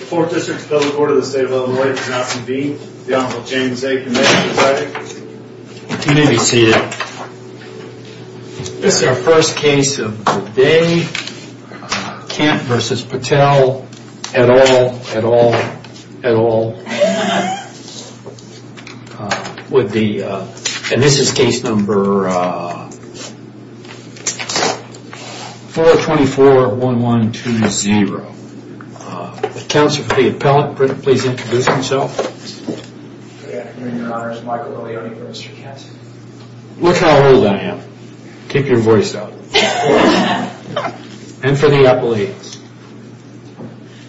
This is our first case of the day, Kent v. Patel, et al, et al, et al, and this is case number 4241120. Counselor for the appellant, please introduce himself. Good afternoon your honor, it's Michael Eliot for Mr. Kent. Look how old I am. Keep your voice down. And for the appellate.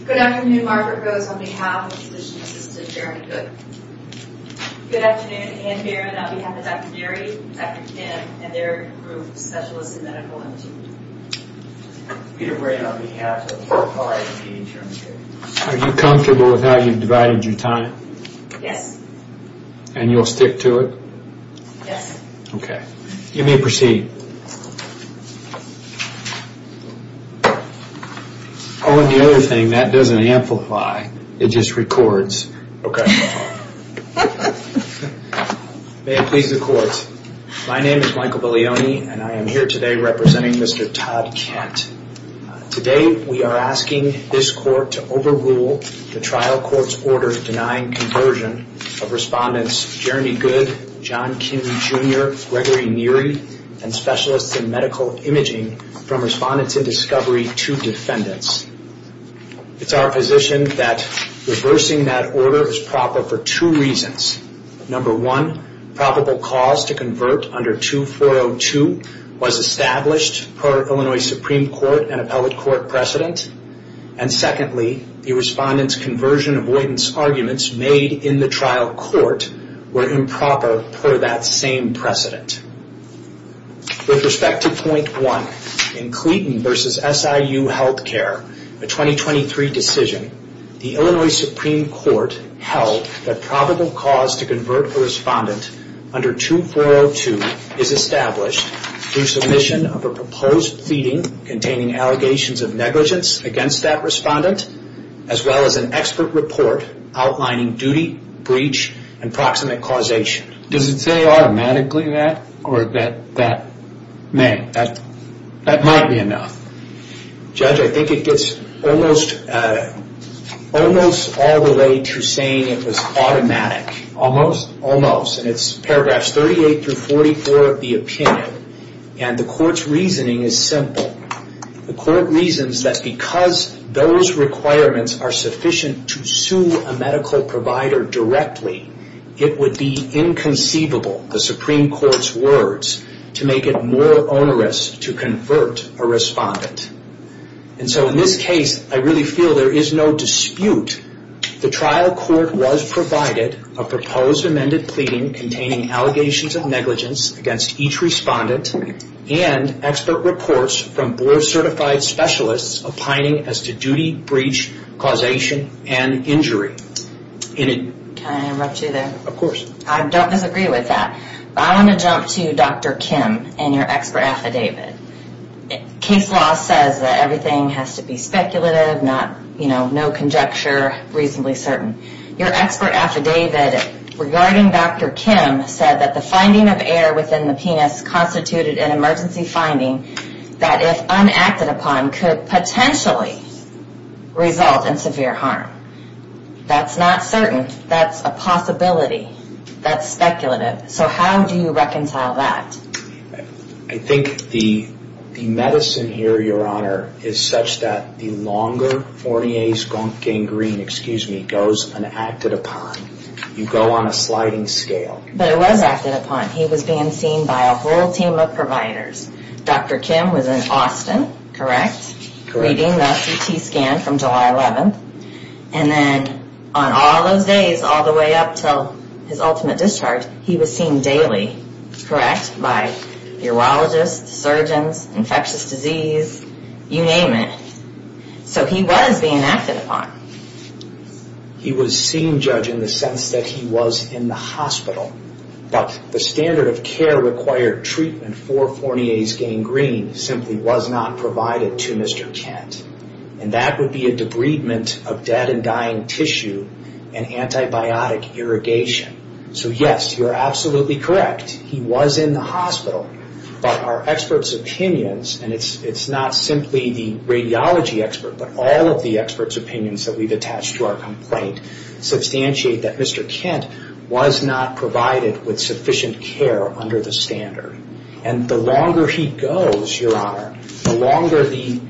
Good afternoon, Margaret Rose on behalf of the physician assistant, Jeremy Good. Good afternoon, Anne Barron on behalf of Dr. Berry, Dr. Kim, and their group of specialists in medical imaging. Peter Bray on behalf of RIT, Jeremy Good. Are you comfortable with how you've divided your time? Yes. And you'll stick to it? Yes. Okay. You may proceed. Oh, and the other thing, that doesn't amplify, it just records. Okay. May it please the court. My name is Michael Belioni and I am here today representing Mr. Todd Kent. Today we are asking this court to overrule the trial court's order denying conversion of respondents Jeremy Good, John Kim Jr., Gregory Neary, and specialists in medical imaging from respondents in discovery to defendants. It's our position that reversing that order is proper for two reasons. Number one, probable cause to convert under 2402 was established per Illinois Supreme Court and appellate court precedent. And secondly, the respondent's conversion avoidance arguments made in the trial court were improper per that same precedent. With respect to point one, in Cleeton versus SIU Healthcare, a 2023 decision, the Illinois Supreme Court held that probable cause to convert a respondent under 2402 is established through submission of a proposed pleading containing allegations of negligence against that respondent as well as an expert report outlining duty, breach, and proximate causation. Does it say automatically that or that may? That might be enough. Judge, I think it gets almost all the way to saying it was automatic. Almost? Almost. It's paragraphs 38 through 44 of the opinion. And the court's requirements are sufficient to sue a medical provider directly. It would be inconceivable, the Supreme Court's words, to make it more onerous to convert a respondent. And so in this case, I really feel there is no dispute. The trial court was provided a proposed amended pleading containing allegations of negligence against each respondent and expert reports from board-certified specialists opining as to duty, breach, causation, and injury. Can I interrupt you there? Of course. I don't disagree with that. I want to jump to Dr. Kim and your expert affidavit. Case law says that everything has to be speculative, no conjecture, reasonably certain. Your expert affidavit regarding Dr. Kim said that the finding of air within the penis constituted an emergency finding that if unacted upon could potentially result in severe harm. That's not certain. That's a possibility. That's speculative. So how do you reconcile that? I think the medicine here, Your Honor, is such that the longer forniae sconc gangrene, excuse me, goes unacted upon. You go on a whole team of providers. Dr. Kim was in Austin, correct, reading the CT scan from July 11th. And then on all those days, all the way up until his ultimate discharge, he was seen daily, correct, by urologists, surgeons, infectious disease, you name it. So he was being acted upon. He was seen, Judge, in the sense that he was in the hospital. But the standard of care required treatment for forniae gangrene simply was not provided to Mr. Kent. And that would be a debridement of dead and dying tissue and antibiotic irrigation. So yes, you're absolutely correct. He was in the hospital. But our experts' opinions, and it's not simply the radiology expert, but all of the experts' opinions that we've attached to our complaint, substantiate that Mr. Kent was not provided with sufficient care under the standard. And the longer he goes, Your Honor, the longer the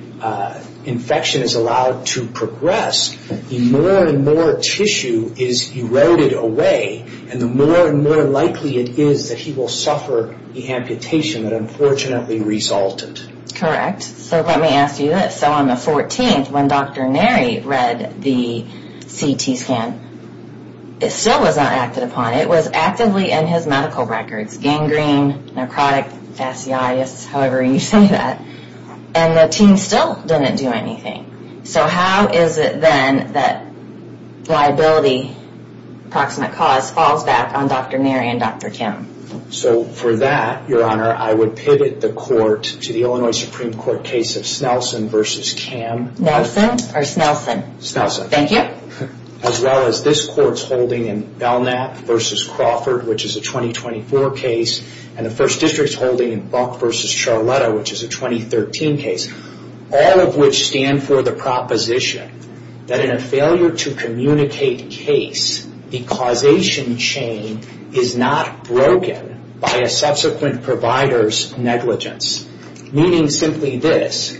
infection is allowed to progress, the more and more tissue is eroded away, and the more and more likely it is that he will suffer the amputation that unfortunately resulted. Correct. So let me ask you this. So on the 14th, when Dr. Neri read the CT scan, it still was not acted upon. It was actively in his medical records. Gangrene, necrotic, fasciitis, however you say that. And the team still didn't do anything. So how is it then that liability, proximate cause, falls back on Dr. Neri and Dr. Kent? So for that, Your Honor, I would pivot the court to the Illinois Supreme Court case of Snelson v. Cam, as well as this court's holding in Belknap v. Crawford, which is a 2024 case, and the First District's holding in Buck v. Charlotta, which is a 2013 case. All of which stand for the proposition that in a failure to communicate case, the causation chain is not broken by a subsequent provider's negligence. Meaning simply this,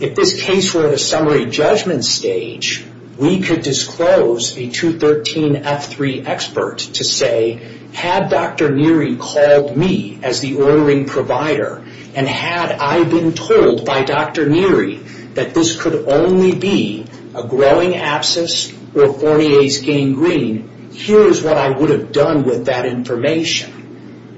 if this case were at a summary judgment stage, we could disclose a 213F3 expert to say, had Dr. Neri called me as the ordering provider, and had I been told by Dr. Neri that this could only be a growing abscess or Fortier's gangrene, here is what I would have done with that information.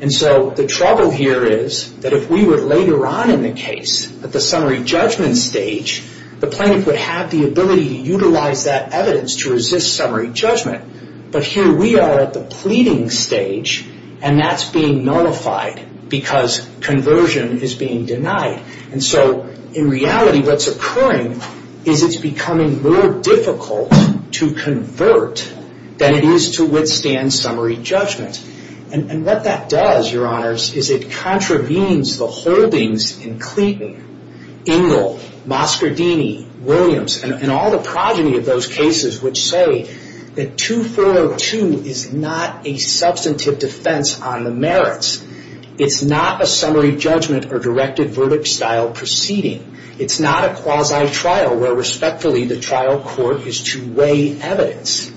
And so the trouble here is that if we were later on in the case, at the summary judgment stage, the plaintiff would have the ability to utilize that evidence to resist summary judgment. But here we are at the pleading stage, and that's being nullified because conversion is being denied. And so in reality, what's occurring is it's becoming more difficult to convert than it is to withstand summary judgment. And what that does, Your Honors, is it contravenes the holdings in Clayton, Ingle, Moscardini, Williams, and all the progeny of those cases which say that 2402 is not a substantive defense on the merits. It's not a summary judgment or directed verdict style proceeding. It's not a quasi-trial where respectfully the trial court is to weigh evidence.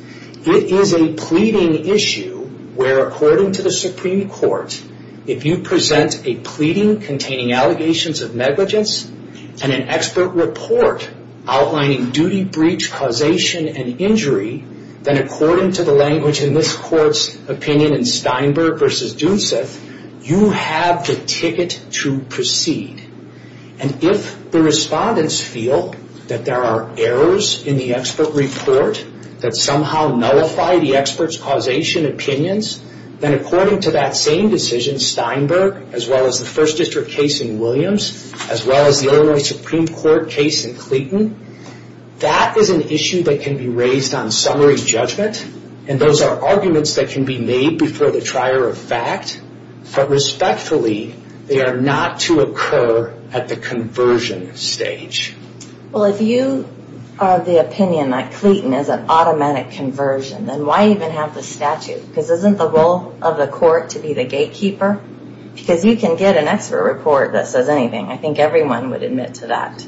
It is a pleading issue where according to the Supreme Court, if you present a pleading containing allegations of negligence and an expert report outlining duty, breach, causation, and injury, then according to the language in this court's opinion in Steinberg v. Dunseth, you have the ticket to proceed. And if the respondents feel that there are errors in the expert report that somehow nullify the expert's causation opinions, then according to that same decision, Steinberg, as well as the First District case in Williams, as well as the Illinois Supreme Court case in Clayton, that is an issue that can be raised on summary judgment. And those are arguments that can be made before the trier of fact. But respectfully, they are not to occur at the conversion stage. Well, if you are of the opinion that Clayton is an automatic conversion, then why even have the statute? Because isn't the role of the court to be the gatekeeper? Because you can get an expert report that says anything. I think everyone would admit to that.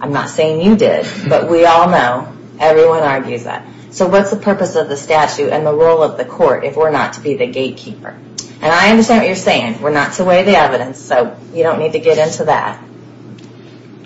I'm not saying you did, but we all know. Everyone argues that. So what's the purpose of the statute and the role of the court if we're not to be the gatekeeper? And I understand what you're saying. We're not to weigh the evidence, so you don't need to get into that.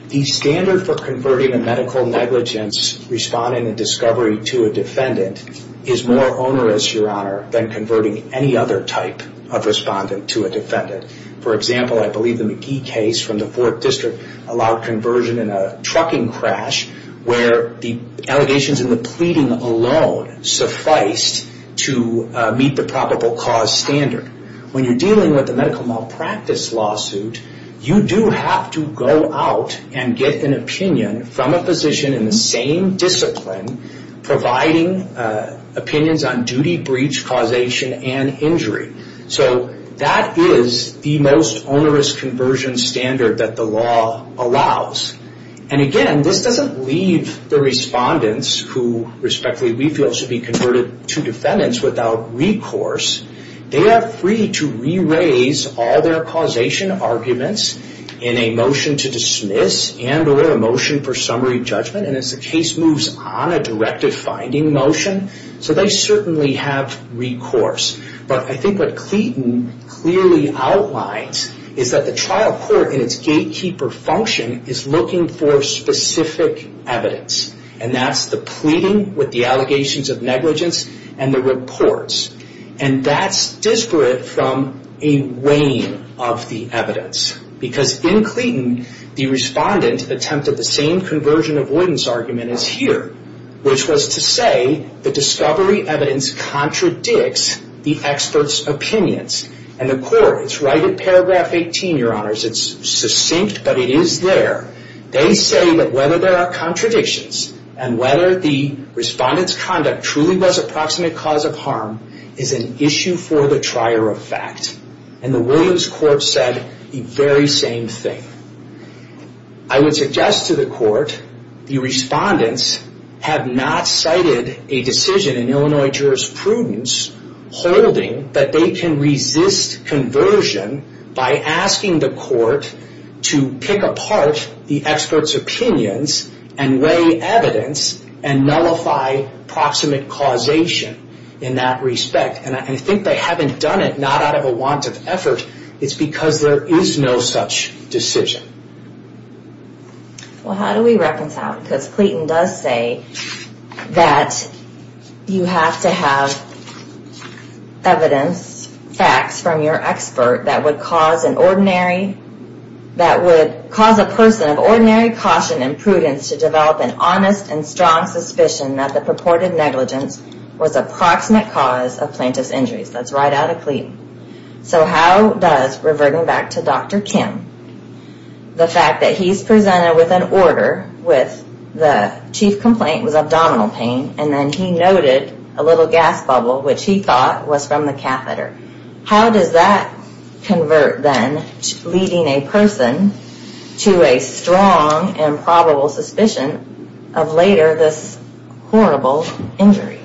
The standard for converting a medical negligence respondent in discovery to a defendant is more onerous, Your Honor, than converting any other type of respondent to a defendant. For example, I believe the McGee case from the Fourth District allowed conversion in a trucking crash where the allegations in the pleading alone sufficed to meet the probable cause standard. When you're dealing with a medical malpractice lawsuit, you do have to go out and get an opinion from a physician in the same discipline providing opinions on duty, breach, causation, and injury. So that is the most onerous conversion standard that the law allows. And again, this doesn't leave the respondents who respectfully we feel should be converted to defendants without recourse. They are free to re-raise all their causation arguments in a motion to dismiss and or a motion for summary judgment. And as the case moves on a directive-finding motion, so they certainly have recourse. But I think what Cleeton clearly outlines is that the trial court in its gatekeeper function is looking for specific evidence. And that's the pleading with the allegations of negligence and the reports. And that's disparate from a weighing of the evidence. Because in Cleeton, the respondent attempted the same conversion avoidance argument as here, which was to say the discovery evidence contradicts the expert's opinions. And the court, it's right at paragraph 18, your honors. It's succinct, but it is there. They say that whether there are contradictions and whether the respondent's conduct truly was a proximate cause of harm is an issue for the trier of fact. And the Williams court said the very same thing. I would suggest to the court, the respondents have not cited a decision in Illinois jurisprudence holding that they can resist conversion by asking the court to pick apart the expert's opinions and weigh evidence and nullify proximate causation. In that respect. And I think they haven't done it not out of a want of effort. It's because there is no such decision. Well, how do we reconcile? Because Cleeton does say that you have to have evidence, facts from your expert that would cause an ordinary, that would cause a person of ordinary caution and prudence to develop an honest and strong intelligence, was a proximate cause of plaintiff's injuries. That's right out of Cleeton. So how does reverting back to Dr. Kim, the fact that he's presented with an order with the chief complaint was abdominal pain, and then he noted a little gas bubble, which he thought was from the catheter. How does that convert then, leading a person to a strong and probable suspicion of later this horrible injury?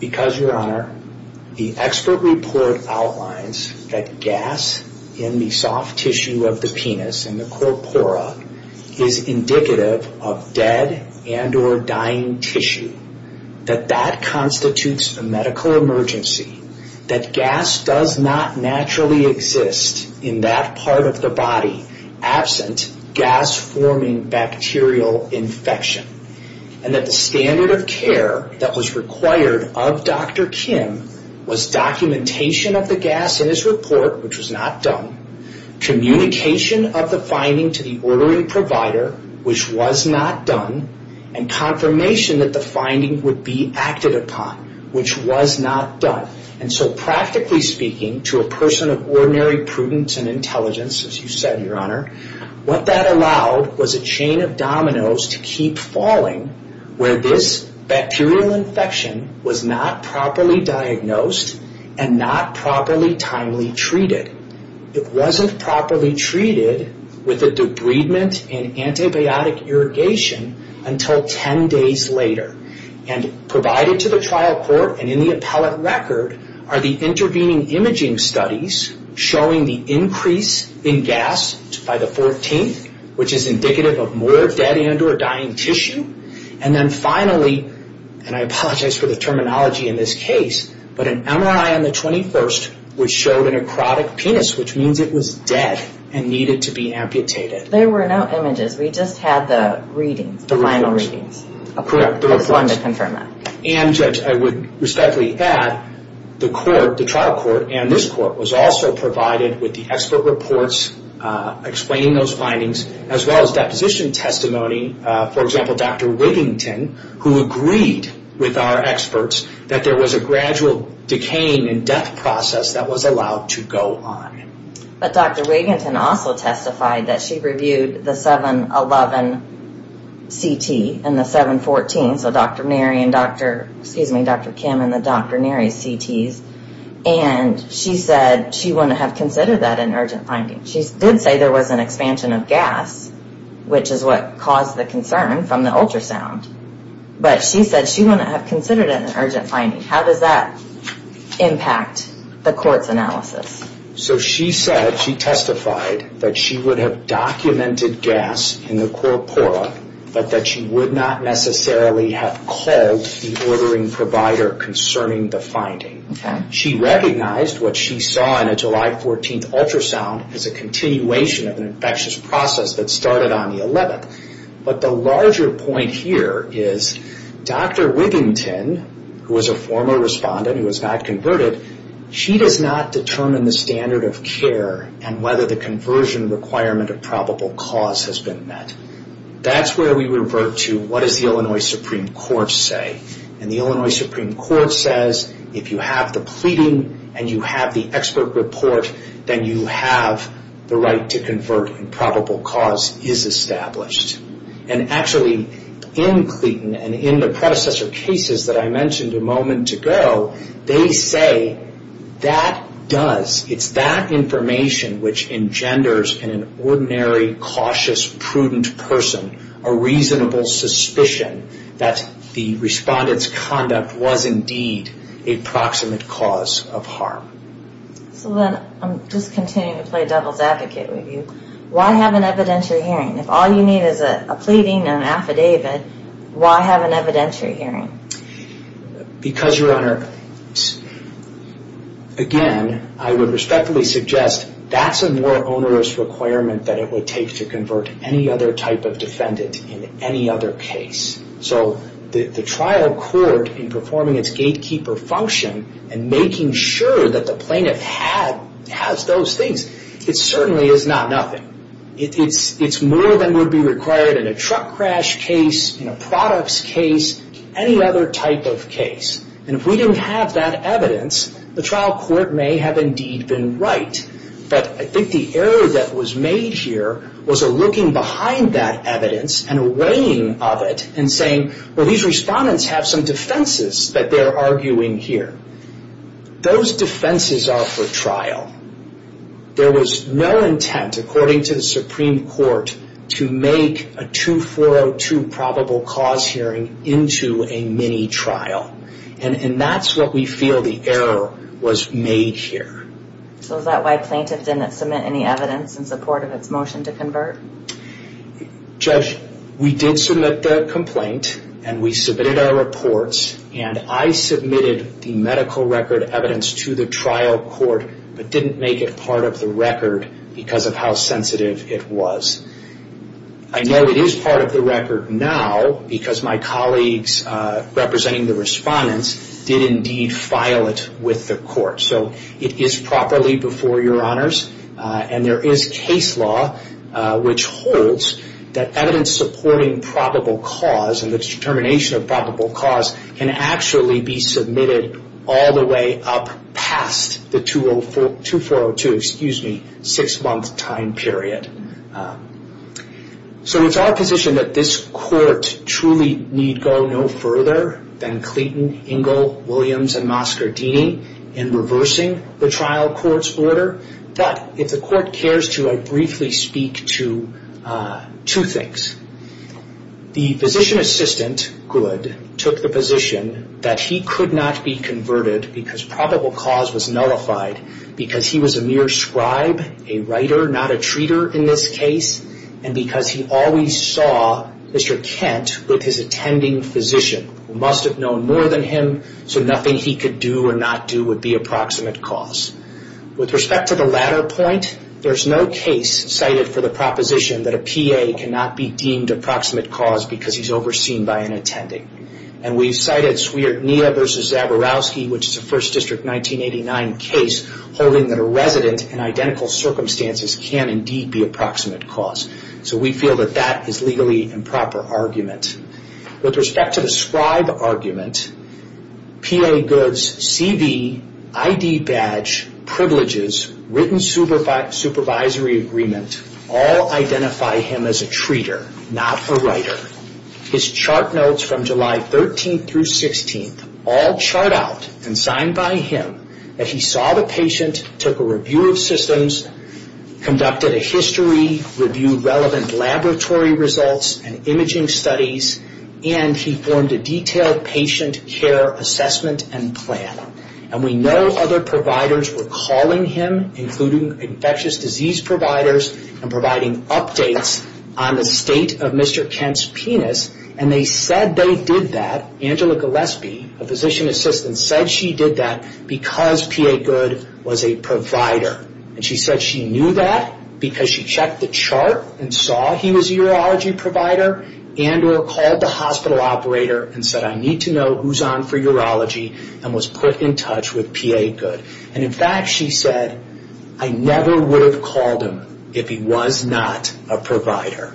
Because your honor, the expert report outlines that gas in the soft tissue of the penis and the corpora is indicative of dead and or dying tissue. That that constitutes a medical emergency. That gas does not naturally exist in that part of the body absent gas forming bacterial infection. And that the standard of care that was required of Dr. Kim was documentation of the gas in his report, which was not done. Communication of the finding to the ordering provider, which was not done. And confirmation that the finding would be acted upon, which was not done. And so practically speaking to a person of ordinary prudence and intelligence, as you said, your honor, what that allowed was a chain of dominoes to keep falling where this bacterial infection was not properly diagnosed and not properly timely treated. It wasn't properly treated with a debridement and antibiotic irrigation until 10 days later. And provided to the trial court and in the trial record are the intervening imaging studies showing the increase in gas by the 14th, which is indicative of more dead and or dying tissue. And then finally, and I apologize for the terminology in this case, but an MRI on the 21st which showed a necrotic penis, which means it was dead and needed to be amputated. There were no images. We just had the readings, the final readings. Correct. I just wanted to confirm that. And I would respectfully add, the court, the trial court and this court was also provided with the expert reports explaining those findings, as well as deposition testimony. For example, Dr. Wigington, who agreed with our experts that there was a gradual decaying and death process that was allowed to go on. But Dr. Wigington also testified that she reviewed the 7-11 CT and the 7-14, so Dr. Neri and Dr., excuse me, Dr. Kim and the Dr. Neri's CTs, and she said she wouldn't have considered that an urgent finding. She did say there was an expansion of gas, which is what caused the concern from the ultrasound. But she said she wouldn't have considered it an urgent finding. How does that impact the court's analysis? So she said, she testified that she would have documented gas in the corpora, but that she would not necessarily have called the ordering provider concerning the finding. She recognized what she saw in a July 14 ultrasound as a continuation of an infectious process that started on the 11th. But the larger point here is Dr. Wigington, who was a former respondent who was not converted, she does not determine the standard of care and whether the conversion requirement of probable cause has been met. That's where we revert to what does the Illinois Supreme Court say? And the Illinois Supreme Court says, if you have the pleading and you have the expert report, then you have the right to convert and probable cause is established. And actually, in Clayton and in the predecessor cases that I mentioned a moment ago, they say that does, it's that information which engenders in an ordinary, cautious, prudent person a reasonable suspicion that the respondent's conduct was indeed a proximate cause of harm. So then, I'm just continuing to play devil's advocate with you. Why have an evidentiary hearing? If all you need is a pleading and an affidavit, why have an evidentiary hearing? Because your Honor, again, I would respectfully suggest that's a more onerous requirement that it would take to convert any other type of defendant in any other case. So the trial court in performing its gatekeeper function and making sure that the plaintiff has those things, it certainly is not nothing. It's more than would be required in a truck crash case, in a products case, any other type of case. And if we didn't have that evidence, the trial court may have indeed been right. But I think the error that was made here was a looking behind that evidence and weighing of it and saying, well, these respondents have some defenses that they're arguing here. Those defenses are for trial. There was no intent, according to the Supreme Court, to make a 2402 probable cause hearing into a mini-trial. And that's what we feel the error was made here. So is that why plaintiff didn't submit any evidence in support of its motion to convert? Judge, we did submit the complaint and we submitted our reports and I submitted the medical record evidence to the trial court but didn't make it part of the record because of how sensitive it was. I know it is part of the record now because my colleagues representing the respondents did indeed file it with the court. So it is properly before your honors and there is case law which holds that evidence supporting probable cause and the determination of probable cause can actually be submitted all the way up past the 2402, excuse me, six-month time period. So it's our position that this court truly need go no further than Clayton, Ingle, Williams, and Moscardini in reversing the trial court's order. But if the court cares to, I briefly speak to two things. The physician assistant, Good, took the position that he could not be converted because probable cause was nullified because he was a mere scribe, a writer, not a treater in this case, and because he always saw Mr. Kent with his attending physician who must have known more than him so nothing he could do or not do would be approximate cause. With respect to the latter point, there's no case cited for the proposition that a PA cannot be deemed approximate cause because he's overseen by an attending. And we've cited Swierdnia v. Zaborowski which is a First District 1989 case holding that a resident in identical circumstances can indeed be approximate cause. So we feel that that is legally improper argument. With respect to the scribe argument, PA Good's CV, ID badge, privileges, written supervisory agreement all identify him as a treater, not a writer. His chart notes from July 13th through 16th all chart out and sign by him that he saw the patient, took a review of systems, conducted a history, reviewed relevant laboratory results and imaging studies, and he formed a detailed patient care assessment and plan. And we know other providers were calling him including infectious disease providers and providing updates on the state of Mr. Kent's penis and they said they did that. Angela Gillespie, a physician assistant, said she did that because PA Good was a provider. And she said she knew that because she checked the chart and saw he was a urology provider and or called the hospital operator and said I need to know who's on for urology and was put in touch with PA Good. And in fact she said I never would have called him if he was not a provider.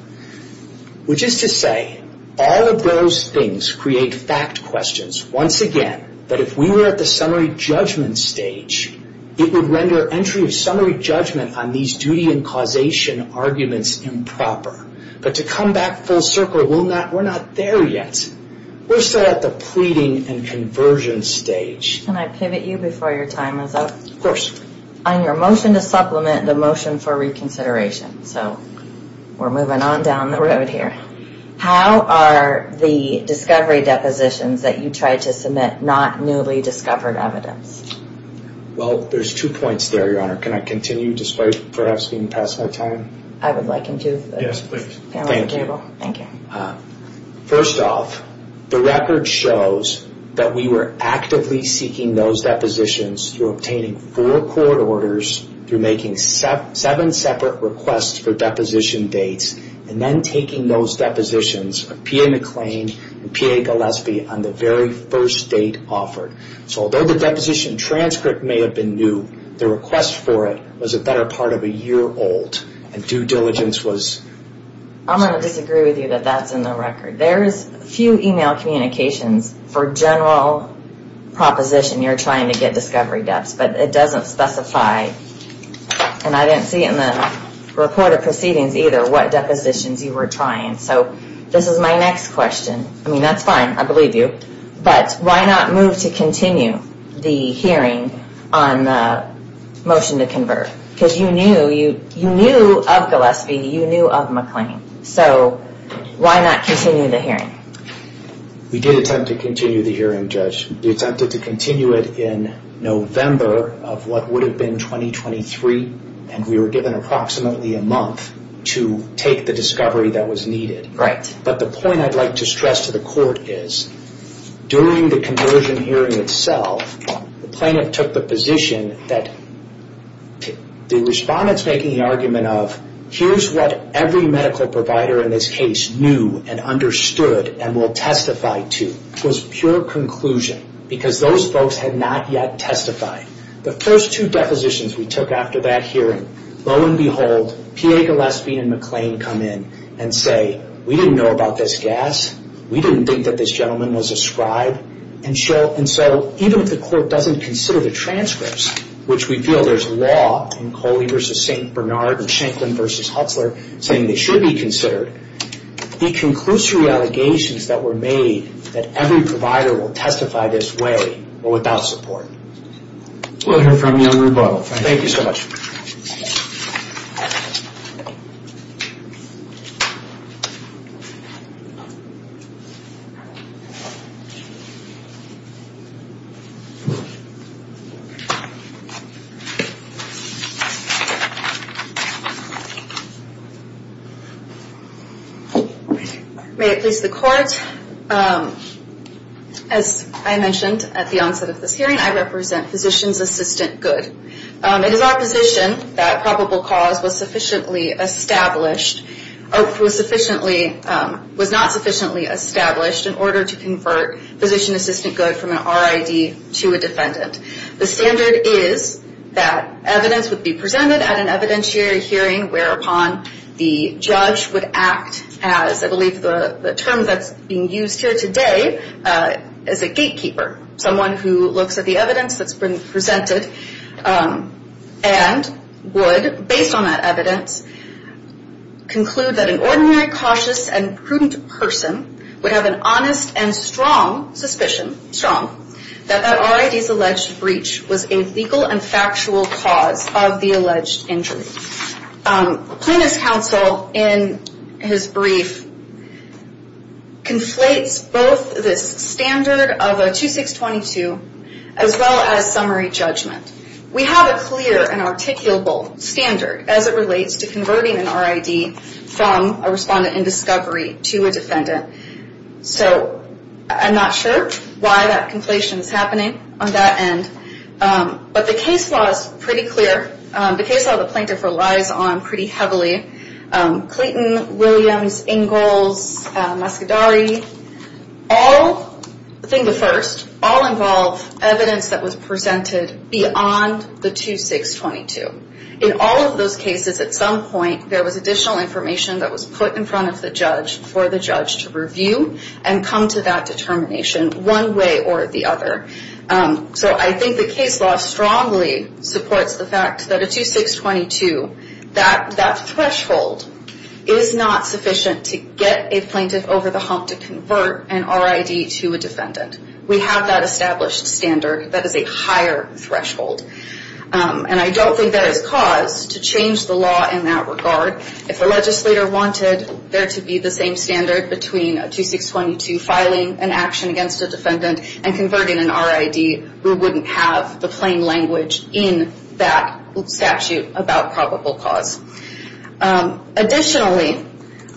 Which is to say all of those things create fact questions. Once again, that if we were at the summary judgment stage, it would render entry of summary judgment on these duty and causation arguments improper. But to come back full circle, we're not there yet. We're still at the pleading and conversion stage. Can I pivot you before your time is up? Of course. On your motion to supplement the motion for reconsideration, so we're moving on down the road here. How are the discovery depositions that you tried to submit not newly discovered evidence? Well, there's two points there, Your Honor. Can I continue despite perhaps being past my time? I would like him to. Yes, please. Thank you. First off, the record shows that we were actively seeking those depositions through obtaining four court orders, through making seven separate requests for deposition dates, and then taking those depositions of PA McLean and PA Gillespie on the very first date offered. So although the deposition transcript may have been new, the request for it was a better part of a year old. And due diligence was... I'm going to disagree with you that that's in the record. There's a few email communications for general proposition you're trying to get discovery depths, but it doesn't specify, and I didn't see it in the report of proceedings either, what depositions you were trying. So this is my next question. I mean, that's fine. I believe you. But why not move to continue the hearing on the motion to convert? Because you knew of Gillespie. You knew of McLean. So why not continue the hearing? We did attempt to continue the hearing, Judge. We attempted to continue it in November of what would have been 2023, and we were given approximately a month to take the discovery that was needed. Right. But the point I'd like to stress to the court is, during the conversion hearing itself, the plaintiff took the position that the respondent's making the argument of, here's what every medical provider in this case knew and understood and will testify to. It was pure conclusion because those folks had not yet testified. The first two depositions we took after that hearing, lo and behold, P.A. Gillespie and McLean come in and say, we didn't know about this gas. We didn't think that this gentleman was a scribe. And so even if the court doesn't consider the transcripts, which we feel there's a law in Coley v. St. Bernard and Shanklin v. Hutzler saying they should be considered, the conclusory allegations that were made that every provider will testify this way were without support. We'll hear from you in rebuttal. Thank you. Thank you so much. May it please the court, as I mentioned at the onset of this hearing, I represent Physician's Assistant Good. It is our position that probable cause was not sufficiently established in order to convert Physician's Assistant Good from an RID to a defendant. The standard is that evidence would be presented at an evidentiary hearing whereupon the judge would act as, I believe the term that's being used here today, as a gatekeeper. Someone who looks at the evidence that's been presented and would, based on that evidence, conclude that an ordinary, cautious, and prudent person would have an honest and strong suspicion that that RID's alleged breach was a legal and factual cause of the alleged injury. Plaintiff's counsel, in his brief, conflates both this standard of a 2622 as well as summary judgment. We have a clear and articulable standard as it relates to converting an RID from a respondent in discovery to a defendant. So I'm not sure why that conflation is happening on that end. But the case law is pretty clear. The case law the plaintiff relies on pretty heavily. Clayton, Williams, Ingalls, Muscadari, all, I think the first, all involve evidence that was presented beyond the 2622. In all of those cases, at some point, there was additional information that was put in front of the judge for the judge to review and come to that determination one way or the other. So I think the case law strongly supports the fact that a 2622, that threshold, is not sufficient to get a plaintiff over the hump to convert an RID to a defendant. We have that established standard that is a higher threshold. And I don't think that is cause to change the law in that regard. If a legislator wanted there to be the same standard between a 2622 filing an action against a defendant and converting an RID, we wouldn't have the plain language in that statute about probable cause. Additionally,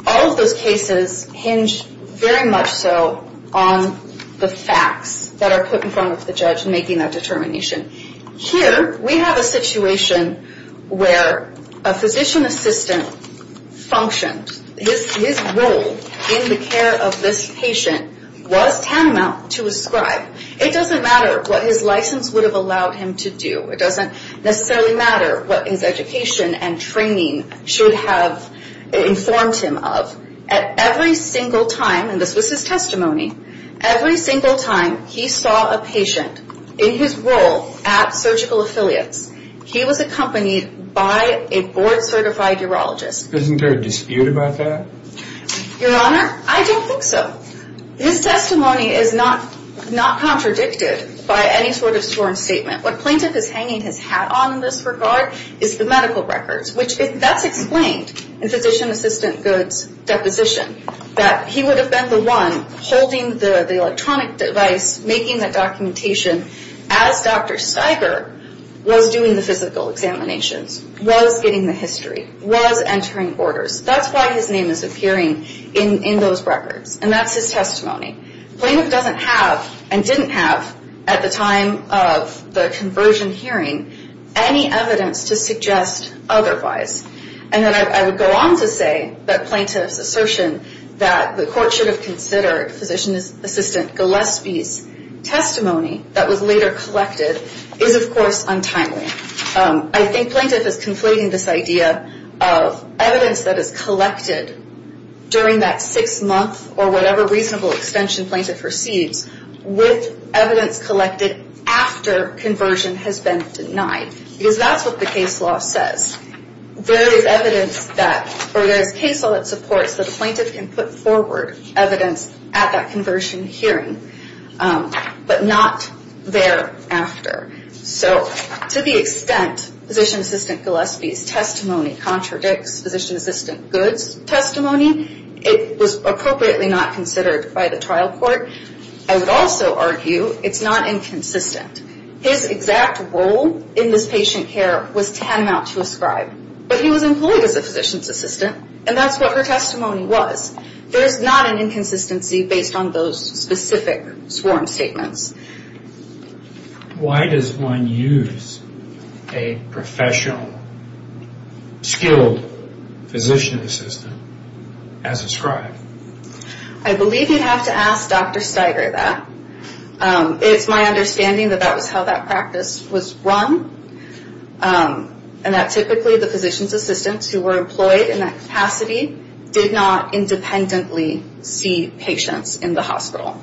all of those cases hinge very much so on the facts that are put in front of the judge in making that determination. Here, we have a situation where a physician assistant functioned. His role in the care of this patient was tantamount to a scribe. It doesn't matter what his license would have allowed him to do. It doesn't necessarily matter what his education and training should have informed him of. At every single time, and this was his testimony, every single time he saw a patient in his role at Surgical Affiliates, he was accompanied by a board certified urologist. Isn't there a dispute about that? Your Honor, I don't think so. His testimony is not contradicted by any sort of sworn statement. What plaintiff is hanging his hat on in this regard is the medical records, which that's explained in physician assistant Goode's deposition, that he would have been the one holding the electronic device, making the documentation as Dr. Stiger was doing the physical examinations, was getting the history, was entering orders. That's why his name is appearing in those records. And that's his testimony. Plaintiff doesn't have and didn't have at the time of the conversion hearing any evidence to suggest otherwise. And then I would go on to say that plaintiff's assertion that the court should have considered physician assistant Gillespie's testimony that was later collected is, of course, untimely. I think plaintiff is conflating this idea of evidence that is collected during that six month or whatever reasonable extension plaintiff receives with evidence collected after conversion has been denied. Because that's what the case law says. There is evidence that or there is case law that supports that a plaintiff can put forward evidence at that conversion hearing, but not thereafter. So to the extent physician assistant Gillespie's testimony contradicts physician assistant Goode's testimony, it was appropriately not considered by the trial court. I would also argue it's not inconsistent. His exact role in this patient care was tantamount to a scribe, but he was employed as a physician's assistant and that's what her testimony was. There's not an inconsistency based on those specific sworn statements. Why does one use a professional skilled physician assistant as a scribe? I believe you'd have to ask Dr. Steiger that. It's my understanding that that was how that practice was run and that typically the physician's assistants who were employed in that capacity did not independently see patients in the hospital.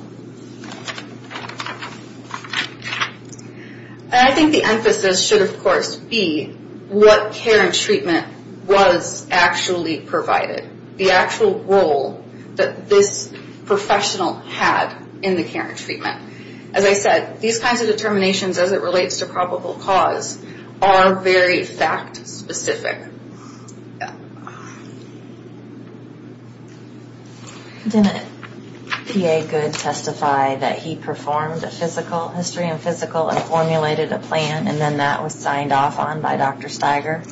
I think the emphasis should of course be what care and treatment was actually provided. The actual role that this professional had in the care and treatment. As I said, these kinds of determinations as it relates to probable cause are very fact specific. Didn't P.A. Goode testify that he performed a physical history and physical and formulated a plan and then that was signed off on by Dr. Steiger?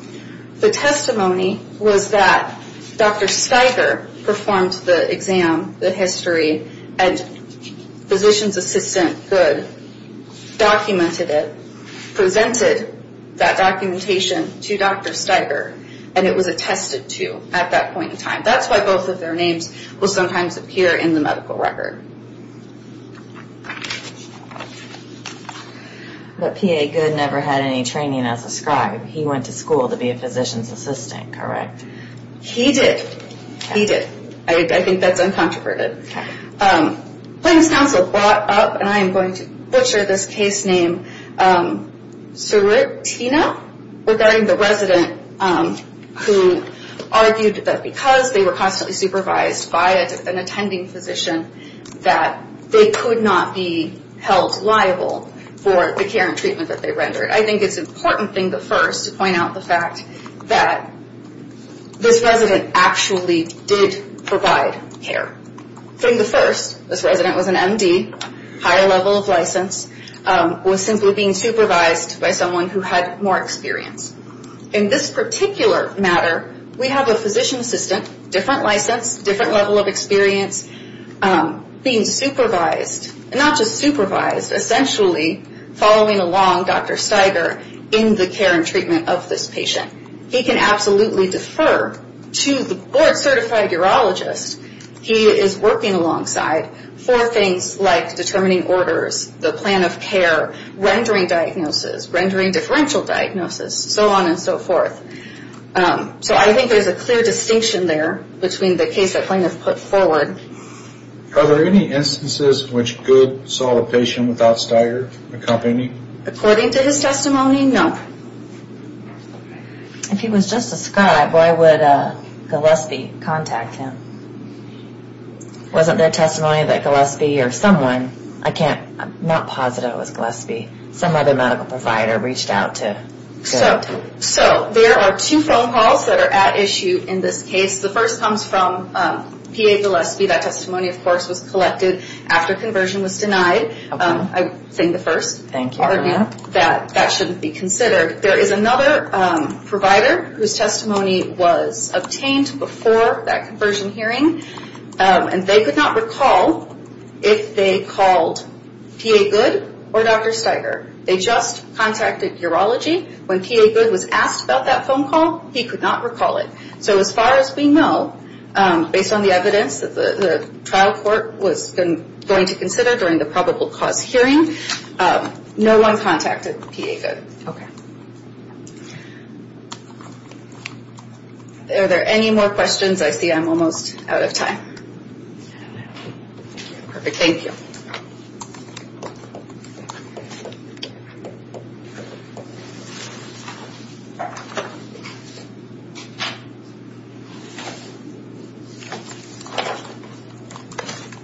The testimony was that Dr. Steiger performed the exam, the history and physician's assistant Goode documented it, presented that documentation to Dr. Steiger and it was attested to at that point in time. That's why both of their names will sometimes appear in the medical record. But P.A. Goode never had any training as a scribe. He went to school to be a physician's assistant, correct? He did. He did. I think that's uncontroverted. Plaintiff's counsel brought up, and I am going to butcher this case name, Seritina regarding the resident who argued that because they were constantly supervised by an attending physician that they could not be held liable for the care and treatment that they rendered. I think it's important thing to first point out the fact that this resident actually did provide care. Thing to first, this resident was an M.D., high level of license, was simply being supervised by someone who had more experience. In this particular matter, we have a physician's assistant, different license, different level of experience, being supervised, not just supervised, essentially following along Dr. Steiger in the care and treatment of this patient. He can absolutely defer to the board certified urologist he is working alongside for things like determining orders, the plan of care, rendering diagnosis, rendering differential diagnosis, so on and so forth. So I think there is a clear distinction there between the case that plaintiff put forward. Are there any instances in which Goode saw a patient without Steiger accompanying? According to his testimony, no. If he was just a scribe, why would Gillespie contact him? Wasn't there testimony that Gillespie or someone, I can't, I'm not positive it was Gillespie, some other medical provider reached out to Goode? So there are two phone calls that are at issue in this case. The first comes from P.A. Gillespie. That testimony, of course, was collected after conversion was denied. I think the first. Thank you for that. That shouldn't be considered. There is another provider whose testimony was obtained before that conversion hearing and they could not recall if they called P.A. Goode or Dr. Steiger. They just contacted urology. When P.A. Goode was asked about that phone call, he could not recall it. So as far as we know, based on the evidence that the trial court was going to consider during the probable cause hearing, no one contacted P.A. Goode. Okay. Are there any more questions? I see I'm almost out of time. Perfect. Thank you.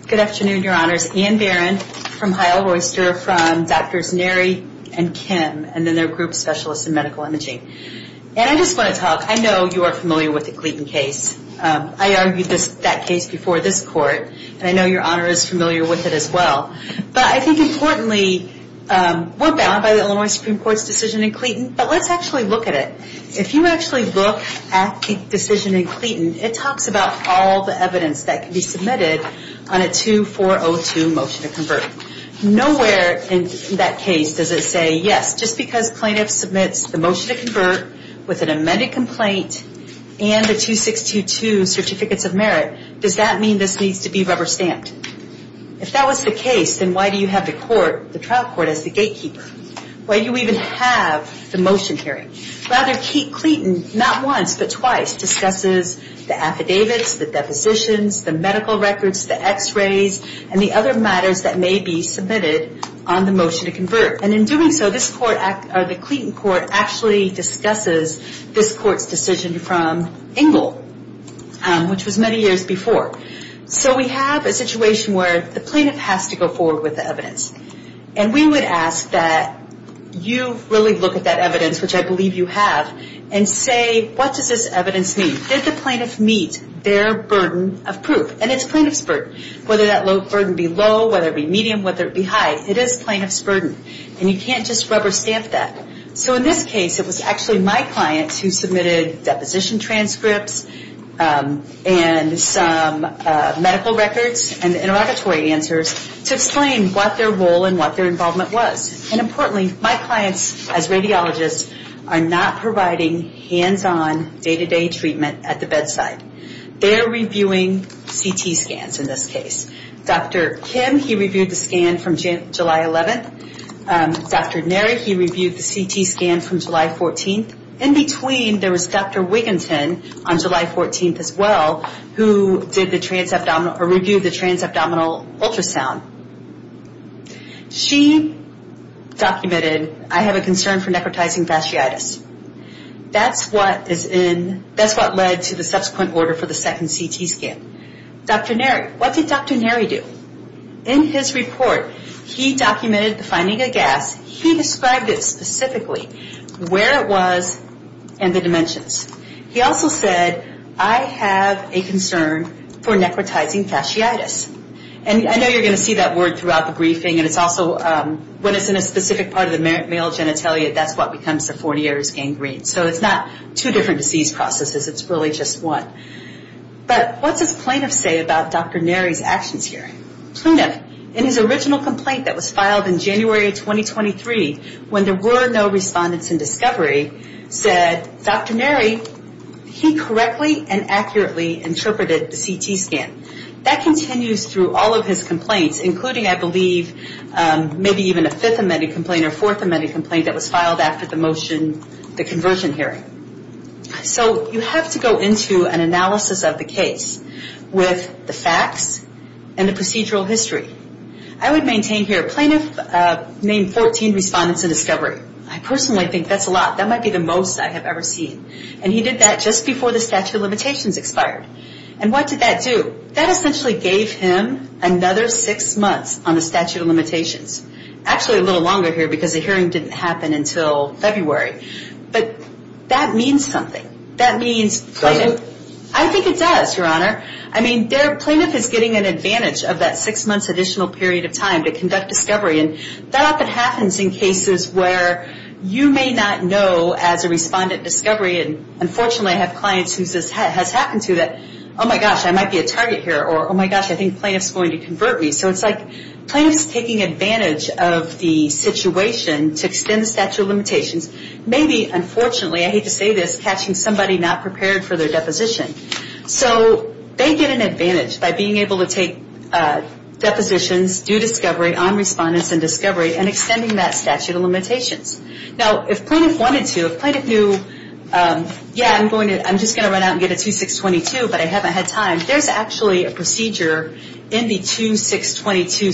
Good afternoon, Your Honors. Ann Barron from Heil Royster, from Drs. Neri and Kim, and then their group specialists in medical imaging. And I just want to talk, I know you are familiar with the Gleaton case. I argued that case before this court and I know Your Honor is familiar with it as well. But I think importantly, we're bound by the Illinois Supreme Court's decision in Gleaton, but let's actually look at it. If you actually look at the decision in Gleaton, it talks about all the evidence that can be submitted on a 2402 motion to convert. Nowhere in that case does it say, yes, just because plaintiff submits the motion to convert with an amended complaint and the 2622 certificates of merit, does that mean this needs to be rubber stamped? If that was the case, then why do you have the court, the trial court, as the gatekeeper? Why do you even have the motion hearing? Rather, Keith Gleaton, not once but twice, discusses the affidavits, the depositions, the medical records, the x-rays, and the other matters that may be submitted on the motion to convert. And in doing so, this court, or the Gleaton court, actually discusses this court's decision from Engel, which was many years before. So we have a situation where the plaintiff has to go forward with the evidence. And we would ask that you really look at that evidence, which I believe you have, and say, what does this evidence mean? Did the plaintiff meet their burden of proof? And it's plaintiff's burden. Whether that burden be low, whether it be medium, whether it be high, it is plaintiff's burden. And you can't just rubber stamp that. So in this case, it was actually my client who submitted deposition transcripts and some medical records and interrogatory answers to explain what their role and what their involvement was. And importantly, my clients as radiologists are not providing hands-on day-to-day treatment at the bedside. They're reviewing CT scans in this case. Dr. Kim, he reviewed the scan from July 11th. Dr. Neri, he reviewed the CT scan from July 14th. In between, there was Dr. Wigginton on July 14th as well, who did the transabdominal, or reviewed the transabdominal ultrasound. She documented, I have a concern for necrotizing fasciitis. That's what led to the subsequent order for the second CT scan. Dr. Neri, what did Dr. Neri do? In his report, he documented the finding of gas. He described it specifically, where it was, and the dimensions. He also said, I have a concern for necrotizing fasciitis. And I know you're going to see that word throughout the briefing, and it's also, when it's in a specific part of the male genitalia, that's what becomes the fornier's gangrene. So it's not two different disease processes, it's really just one. But what does plaintiff say about Dr. Neri's actions hearing? Plaintiff, in his original complaint that was filed in January of 2023, when there were no respondents in discovery, said, Dr. Neri, he correctly and accurately interpreted the CT scan. That continues through all of his complaints, including, I believe, maybe even a fifth amended complaint, or fourth amended complaint that was filed after the motion, the conversion hearing. So you have to go into an analysis of the case with the facts and the procedural history. I would maintain here, plaintiff named 14 respondents in discovery. I personally think that's a lot. That might be the most I have ever seen. And he did that just before the statute of limitations expired. And what did that do? That essentially gave him another six months on the statute of limitations. Actually a little longer here, because the hearing didn't happen until February. But that means something. I think it does, Your Honor. Plaintiff is getting an advantage of that six months additional period of time to conduct discovery. That often happens in cases where you may not know as a respondent discovery, and unfortunately I have clients who this has happened to that, oh my gosh, I might be a target here, or oh my gosh, I think plaintiff's going to convert me. So it's like plaintiff's taking advantage of the situation to extend the statute of limitations, maybe unfortunately, I hate to say this, catching somebody not prepared for their deposition. So they get an advantage by being able to take depositions, due discovery on respondents in discovery, and extending that statute of limitations. Now if plaintiff wanted to, if plaintiff knew, yeah, I'm just going to run out and get a 2622, but I haven't had time, there's actually a procedure in the 2622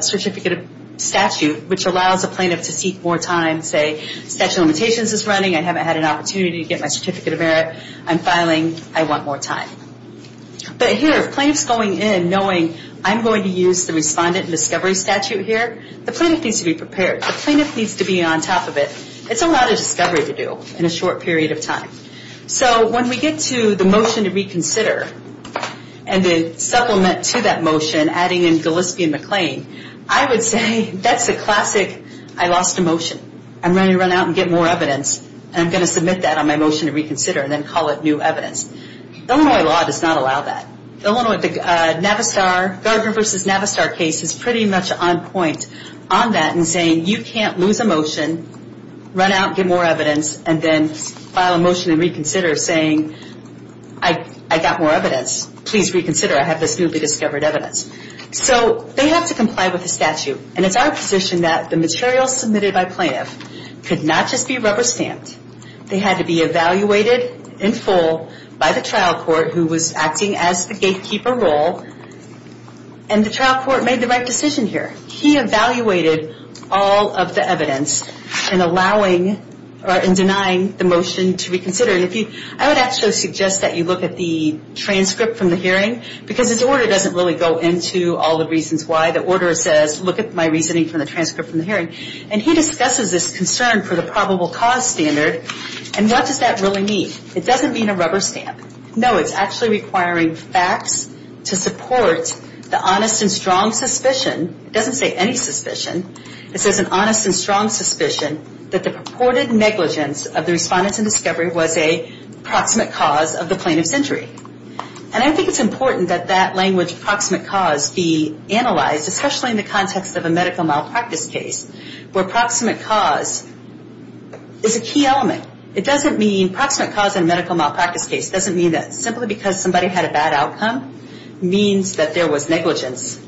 certificate of statute which allows a plaintiff to seek more time, say statute of limitations is running, I haven't had an opportunity to get my certificate of merit, I'm filing, I want more time. But here if plaintiff's going in knowing I'm going to use the respondent discovery statute here, the plaintiff needs to be prepared. The plaintiff needs to be on top of it. It's a lot of discovery to do in a short period of time. So when we get to the motion to reconsider and then supplement to that motion, adding in Gillespie and McLean, I would say that's a classic, I lost a motion, I'm ready to run out and get more evidence, and I'm going to submit that on my motion to reconsider and then call it new evidence. Illinois law does not allow that. Illinois, the Navistar, Garner versus Navistar case is pretty much on point on that in saying you can't lose a motion, run out and get more evidence, and then file a motion and reconsider saying I got more evidence, please reconsider, I have this newly discovered evidence. So they have to comply with the statute, and it's our position that the material submitted by plaintiff could not just be rubber stamped, they had to be evaluated in full by the trial court who was acting as the gatekeeper role, and the trial court made the right decision here. He evaluated all of the evidence in allowing or in denying the motion to reconsider, and I would actually suggest that you look at the transcript from the hearing, because his order doesn't really go into all the reasons why, the order says look at my reasoning from the transcript from the hearing, and he discusses this concern for the probable cause standard, and what does that really mean? It doesn't mean a rubber stamp. No, it's actually requiring facts to support the honest and strong suspicion, it doesn't say any suspicion, it says an honest and strong suspicion that the purported negligence of the respondents in discovery was a proximate cause of the plaintiff's injury, and I think it's important that that language, proximate cause, be analyzed, especially in the context of a medical malpractice case, where proximate cause is a key element. It doesn't mean, proximate cause in a medical malpractice case doesn't mean that simply because somebody had a bad outcome means that there was negligence,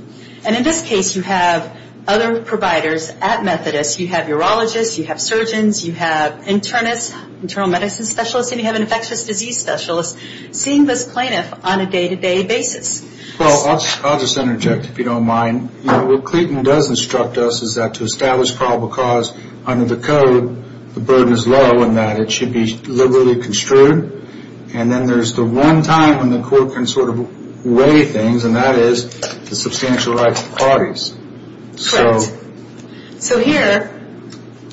and in this case you have other providers at Methodist, you have urologists, you have surgeons, you have internists, internal medicine specialists, and you have an infectious disease specialist, seeing this plaintiff on a day-to-day basis. Well, I'll just interject if you don't mind. What Clayton does instruct us is that to establish probable cause under the code, the burden is low in that it should be liberally construed, and then there's the one time when the court can sort of weigh things, and that is the substantial rights of the parties. Correct. So here,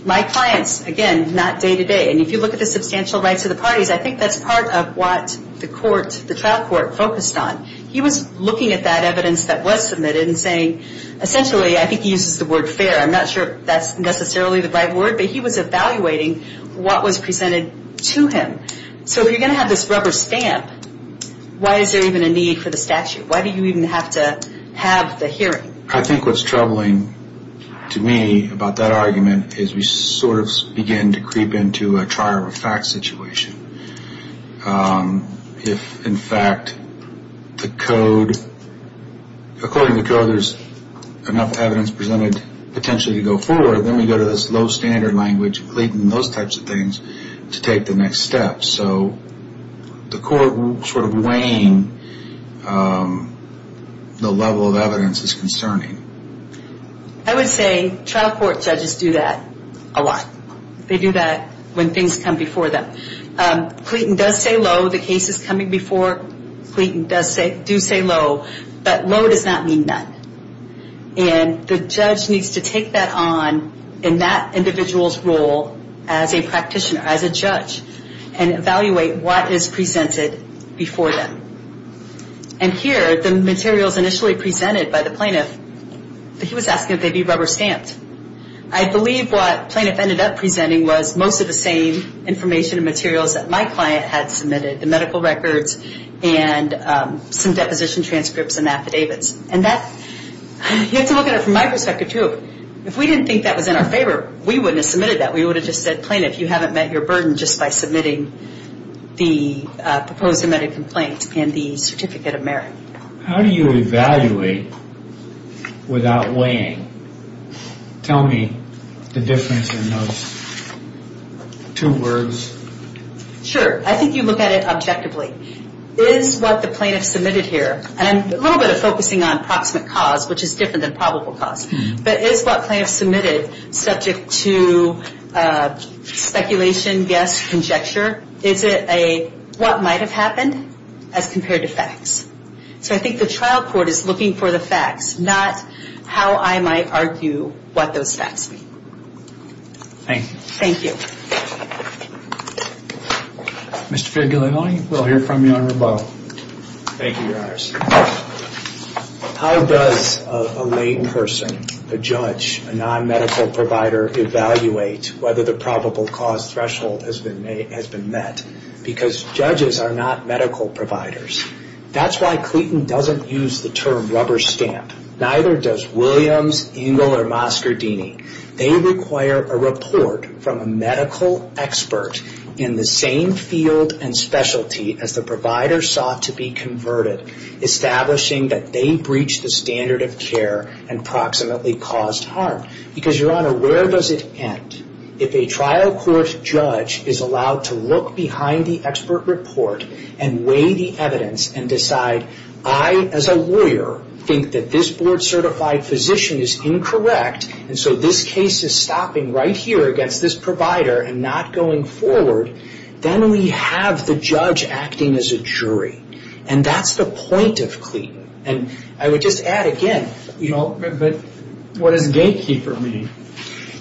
my clients, again, not day-to-day, and if you look at the substantial rights of the parties, I think that's part of what the court, the trial court, focused on. He was looking at that evidence that was submitted and saying, essentially, I think he uses the word fair. I'm not sure that's necessarily the right word, but he was evaluating what was presented to him. So you're going to have this rubber stamp. Why is there even a need for the statute? Why do you even have to have the hearing? I think what's troubling to me about that argument is we sort of begin to creep into a trial-of-a-fact situation. If, in fact, the code, according to the code, there's enough evidence presented potentially to go forward, then we go to this low-standard language, Clayton, those types of things, to take the next step. So the court sort of weighing the level of evidence is concerning. I would say trial court judges do that a lot. They do that when things come before them. Clayton does say low. The cases coming before Clayton do say low, but low does not mean none. And the judge needs to take that on in that individual's role as a practitioner, as a judge, and evaluate what is presented before them. And here, the materials initially presented by the plaintiff, he was asking if they'd be rubber stamped. I believe what the plaintiff ended up presenting was most of the same information and materials that my client had submitted, the medical records and some deposition transcripts and affidavits. And that, you have to look at it from my perspective too. If we didn't think that was in our favor, we wouldn't have submitted that. We would have just said, plaintiff, you haven't met your burden just by submitting the proposed submitted complaint and the certificate of merit. How do you evaluate without weighing? Tell me the difference in those two words. Sure. I think you look at it objectively. Is what the plaintiff submitted here, and a little bit of focusing on proximate cause, which is different than probable cause, but is what plaintiff submitted subject to speculation, guess, conjecture? Is it a what might have happened as compared to facts? So I think the trial court is looking for the facts, not how I might argue what those facts mean. Thank you. Mr. Figueroa, we'll hear from you on rebuttal. Thank you, Your Honors. How does a lay person, a judge, a non-medical provider, evaluate whether the probable cause threshold has been met? Because judges are not medical providers. That's why Cleton doesn't use the term rubber stamp. Neither does Williams, Engel, or Moscardini. They require a report from a medical expert in the same field and specialty as the provider sought to be converted, establishing that they breached the standard of care and proximately caused harm. Because Your Honor, where does it end if a trial court judge is allowed to look behind the expert report and weigh the evidence and decide, I as a lawyer think that this board is this provider and not going forward, then we have the judge acting as a jury. And that's the point of Cleton. And I would just add again, you know, but what does gatekeeper mean?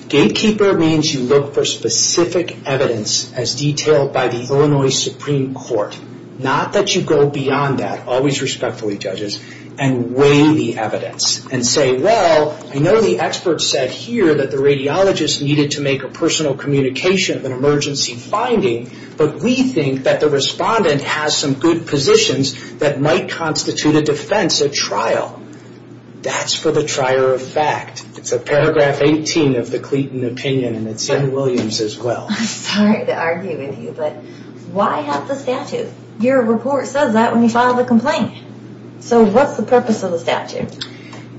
Gatekeeper means you look for specific evidence as detailed by the Illinois Supreme Court. Not that you go beyond that, always respectfully, judges, and weigh the evidence and say, well, I know the expert said here that the radiologist needed to make a personal communication of an emergency finding, but we think that the respondent has some good positions that might constitute a defense at trial. That's for the trier of fact. It's a paragraph 18 of the Cleton opinion and it's in Williams as well. I'm sorry to argue with you, but why have the statute? Your report says that when you The purpose of the statute,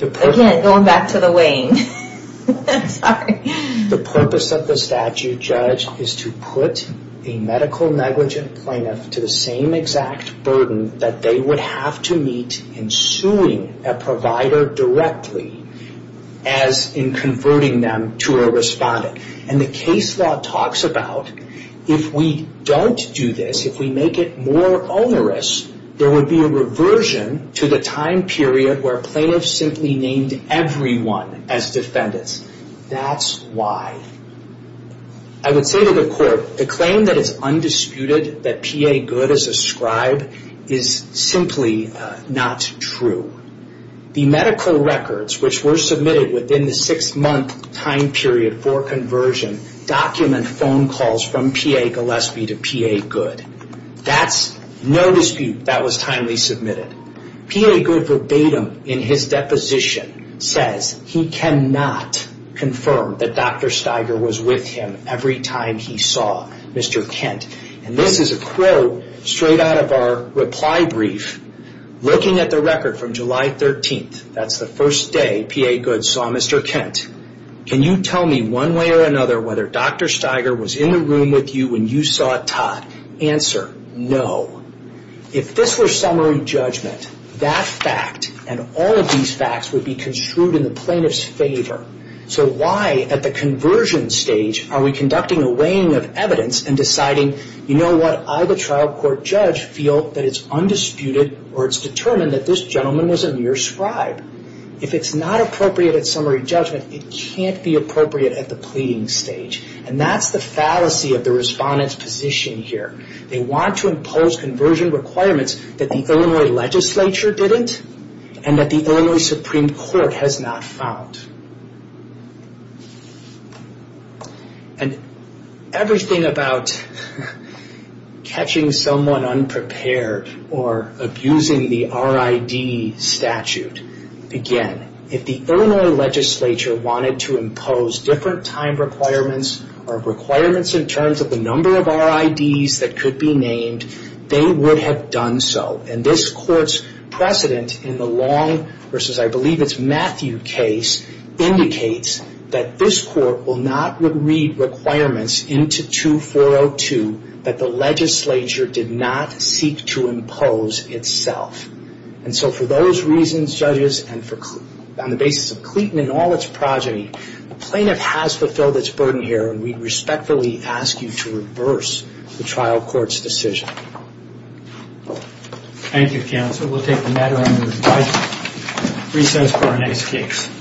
again, going back to the weighing, I'm sorry. The purpose of the statute, judge, is to put a medical negligent plaintiff to the same exact burden that they would have to meet in suing a provider directly as in converting them to a respondent. And the case law talks about if we don't do this, if we make it more onerous, there would be a reversion to the time period where plaintiffs simply named everyone as defendants. That's why. I would say to the court, the claim that it's undisputed that PA Good is a scribe is simply not true. The medical records which were submitted within the six month time period for conversion document phone calls from PA Gillespie to PA Good. That's no dispute. That was timely submitted. PA Good verbatim in his deposition says he cannot confirm that Dr. Steiger was with him every time he saw Mr. Kent. This is a quote straight out of our reply brief looking at the record from July 13th. That's the first day PA Good saw Mr. Kent. Can you tell me one way or another whether Dr. Steiger was in the room with you when you saw Todd? Answer, no. If this were summary judgment, that fact and all of these facts would be construed in the plaintiff's favor. So why at the conversion stage are we conducting a weighing of evidence and deciding, you know what, I the trial court judge feel that it's undisputed or it's determined that this gentleman was a near scribe. If it's not appropriate at summary judgment, it can't be appropriate at the pleading stage. That's the fallacy of the respondent's position here. They want to impose conversion requirements that the Illinois legislature didn't and that the Illinois Supreme Court has not found. Everything about catching someone unprepared or abusing the RID statute, again, if the requirements in terms of the number of RIDs that could be named, they would have done so and this court's precedent in the Long versus I believe it's Matthew case indicates that this court will not read requirements into 2402 that the legislature did not seek to impose itself. And so for those reasons, judges, and on the basis of Cleton and all its progeny, the plaintiff has fulfilled its burden here and we respectfully ask you to reverse the trial court's decision. Thank you, counsel. We'll take the matter under recess for our next case.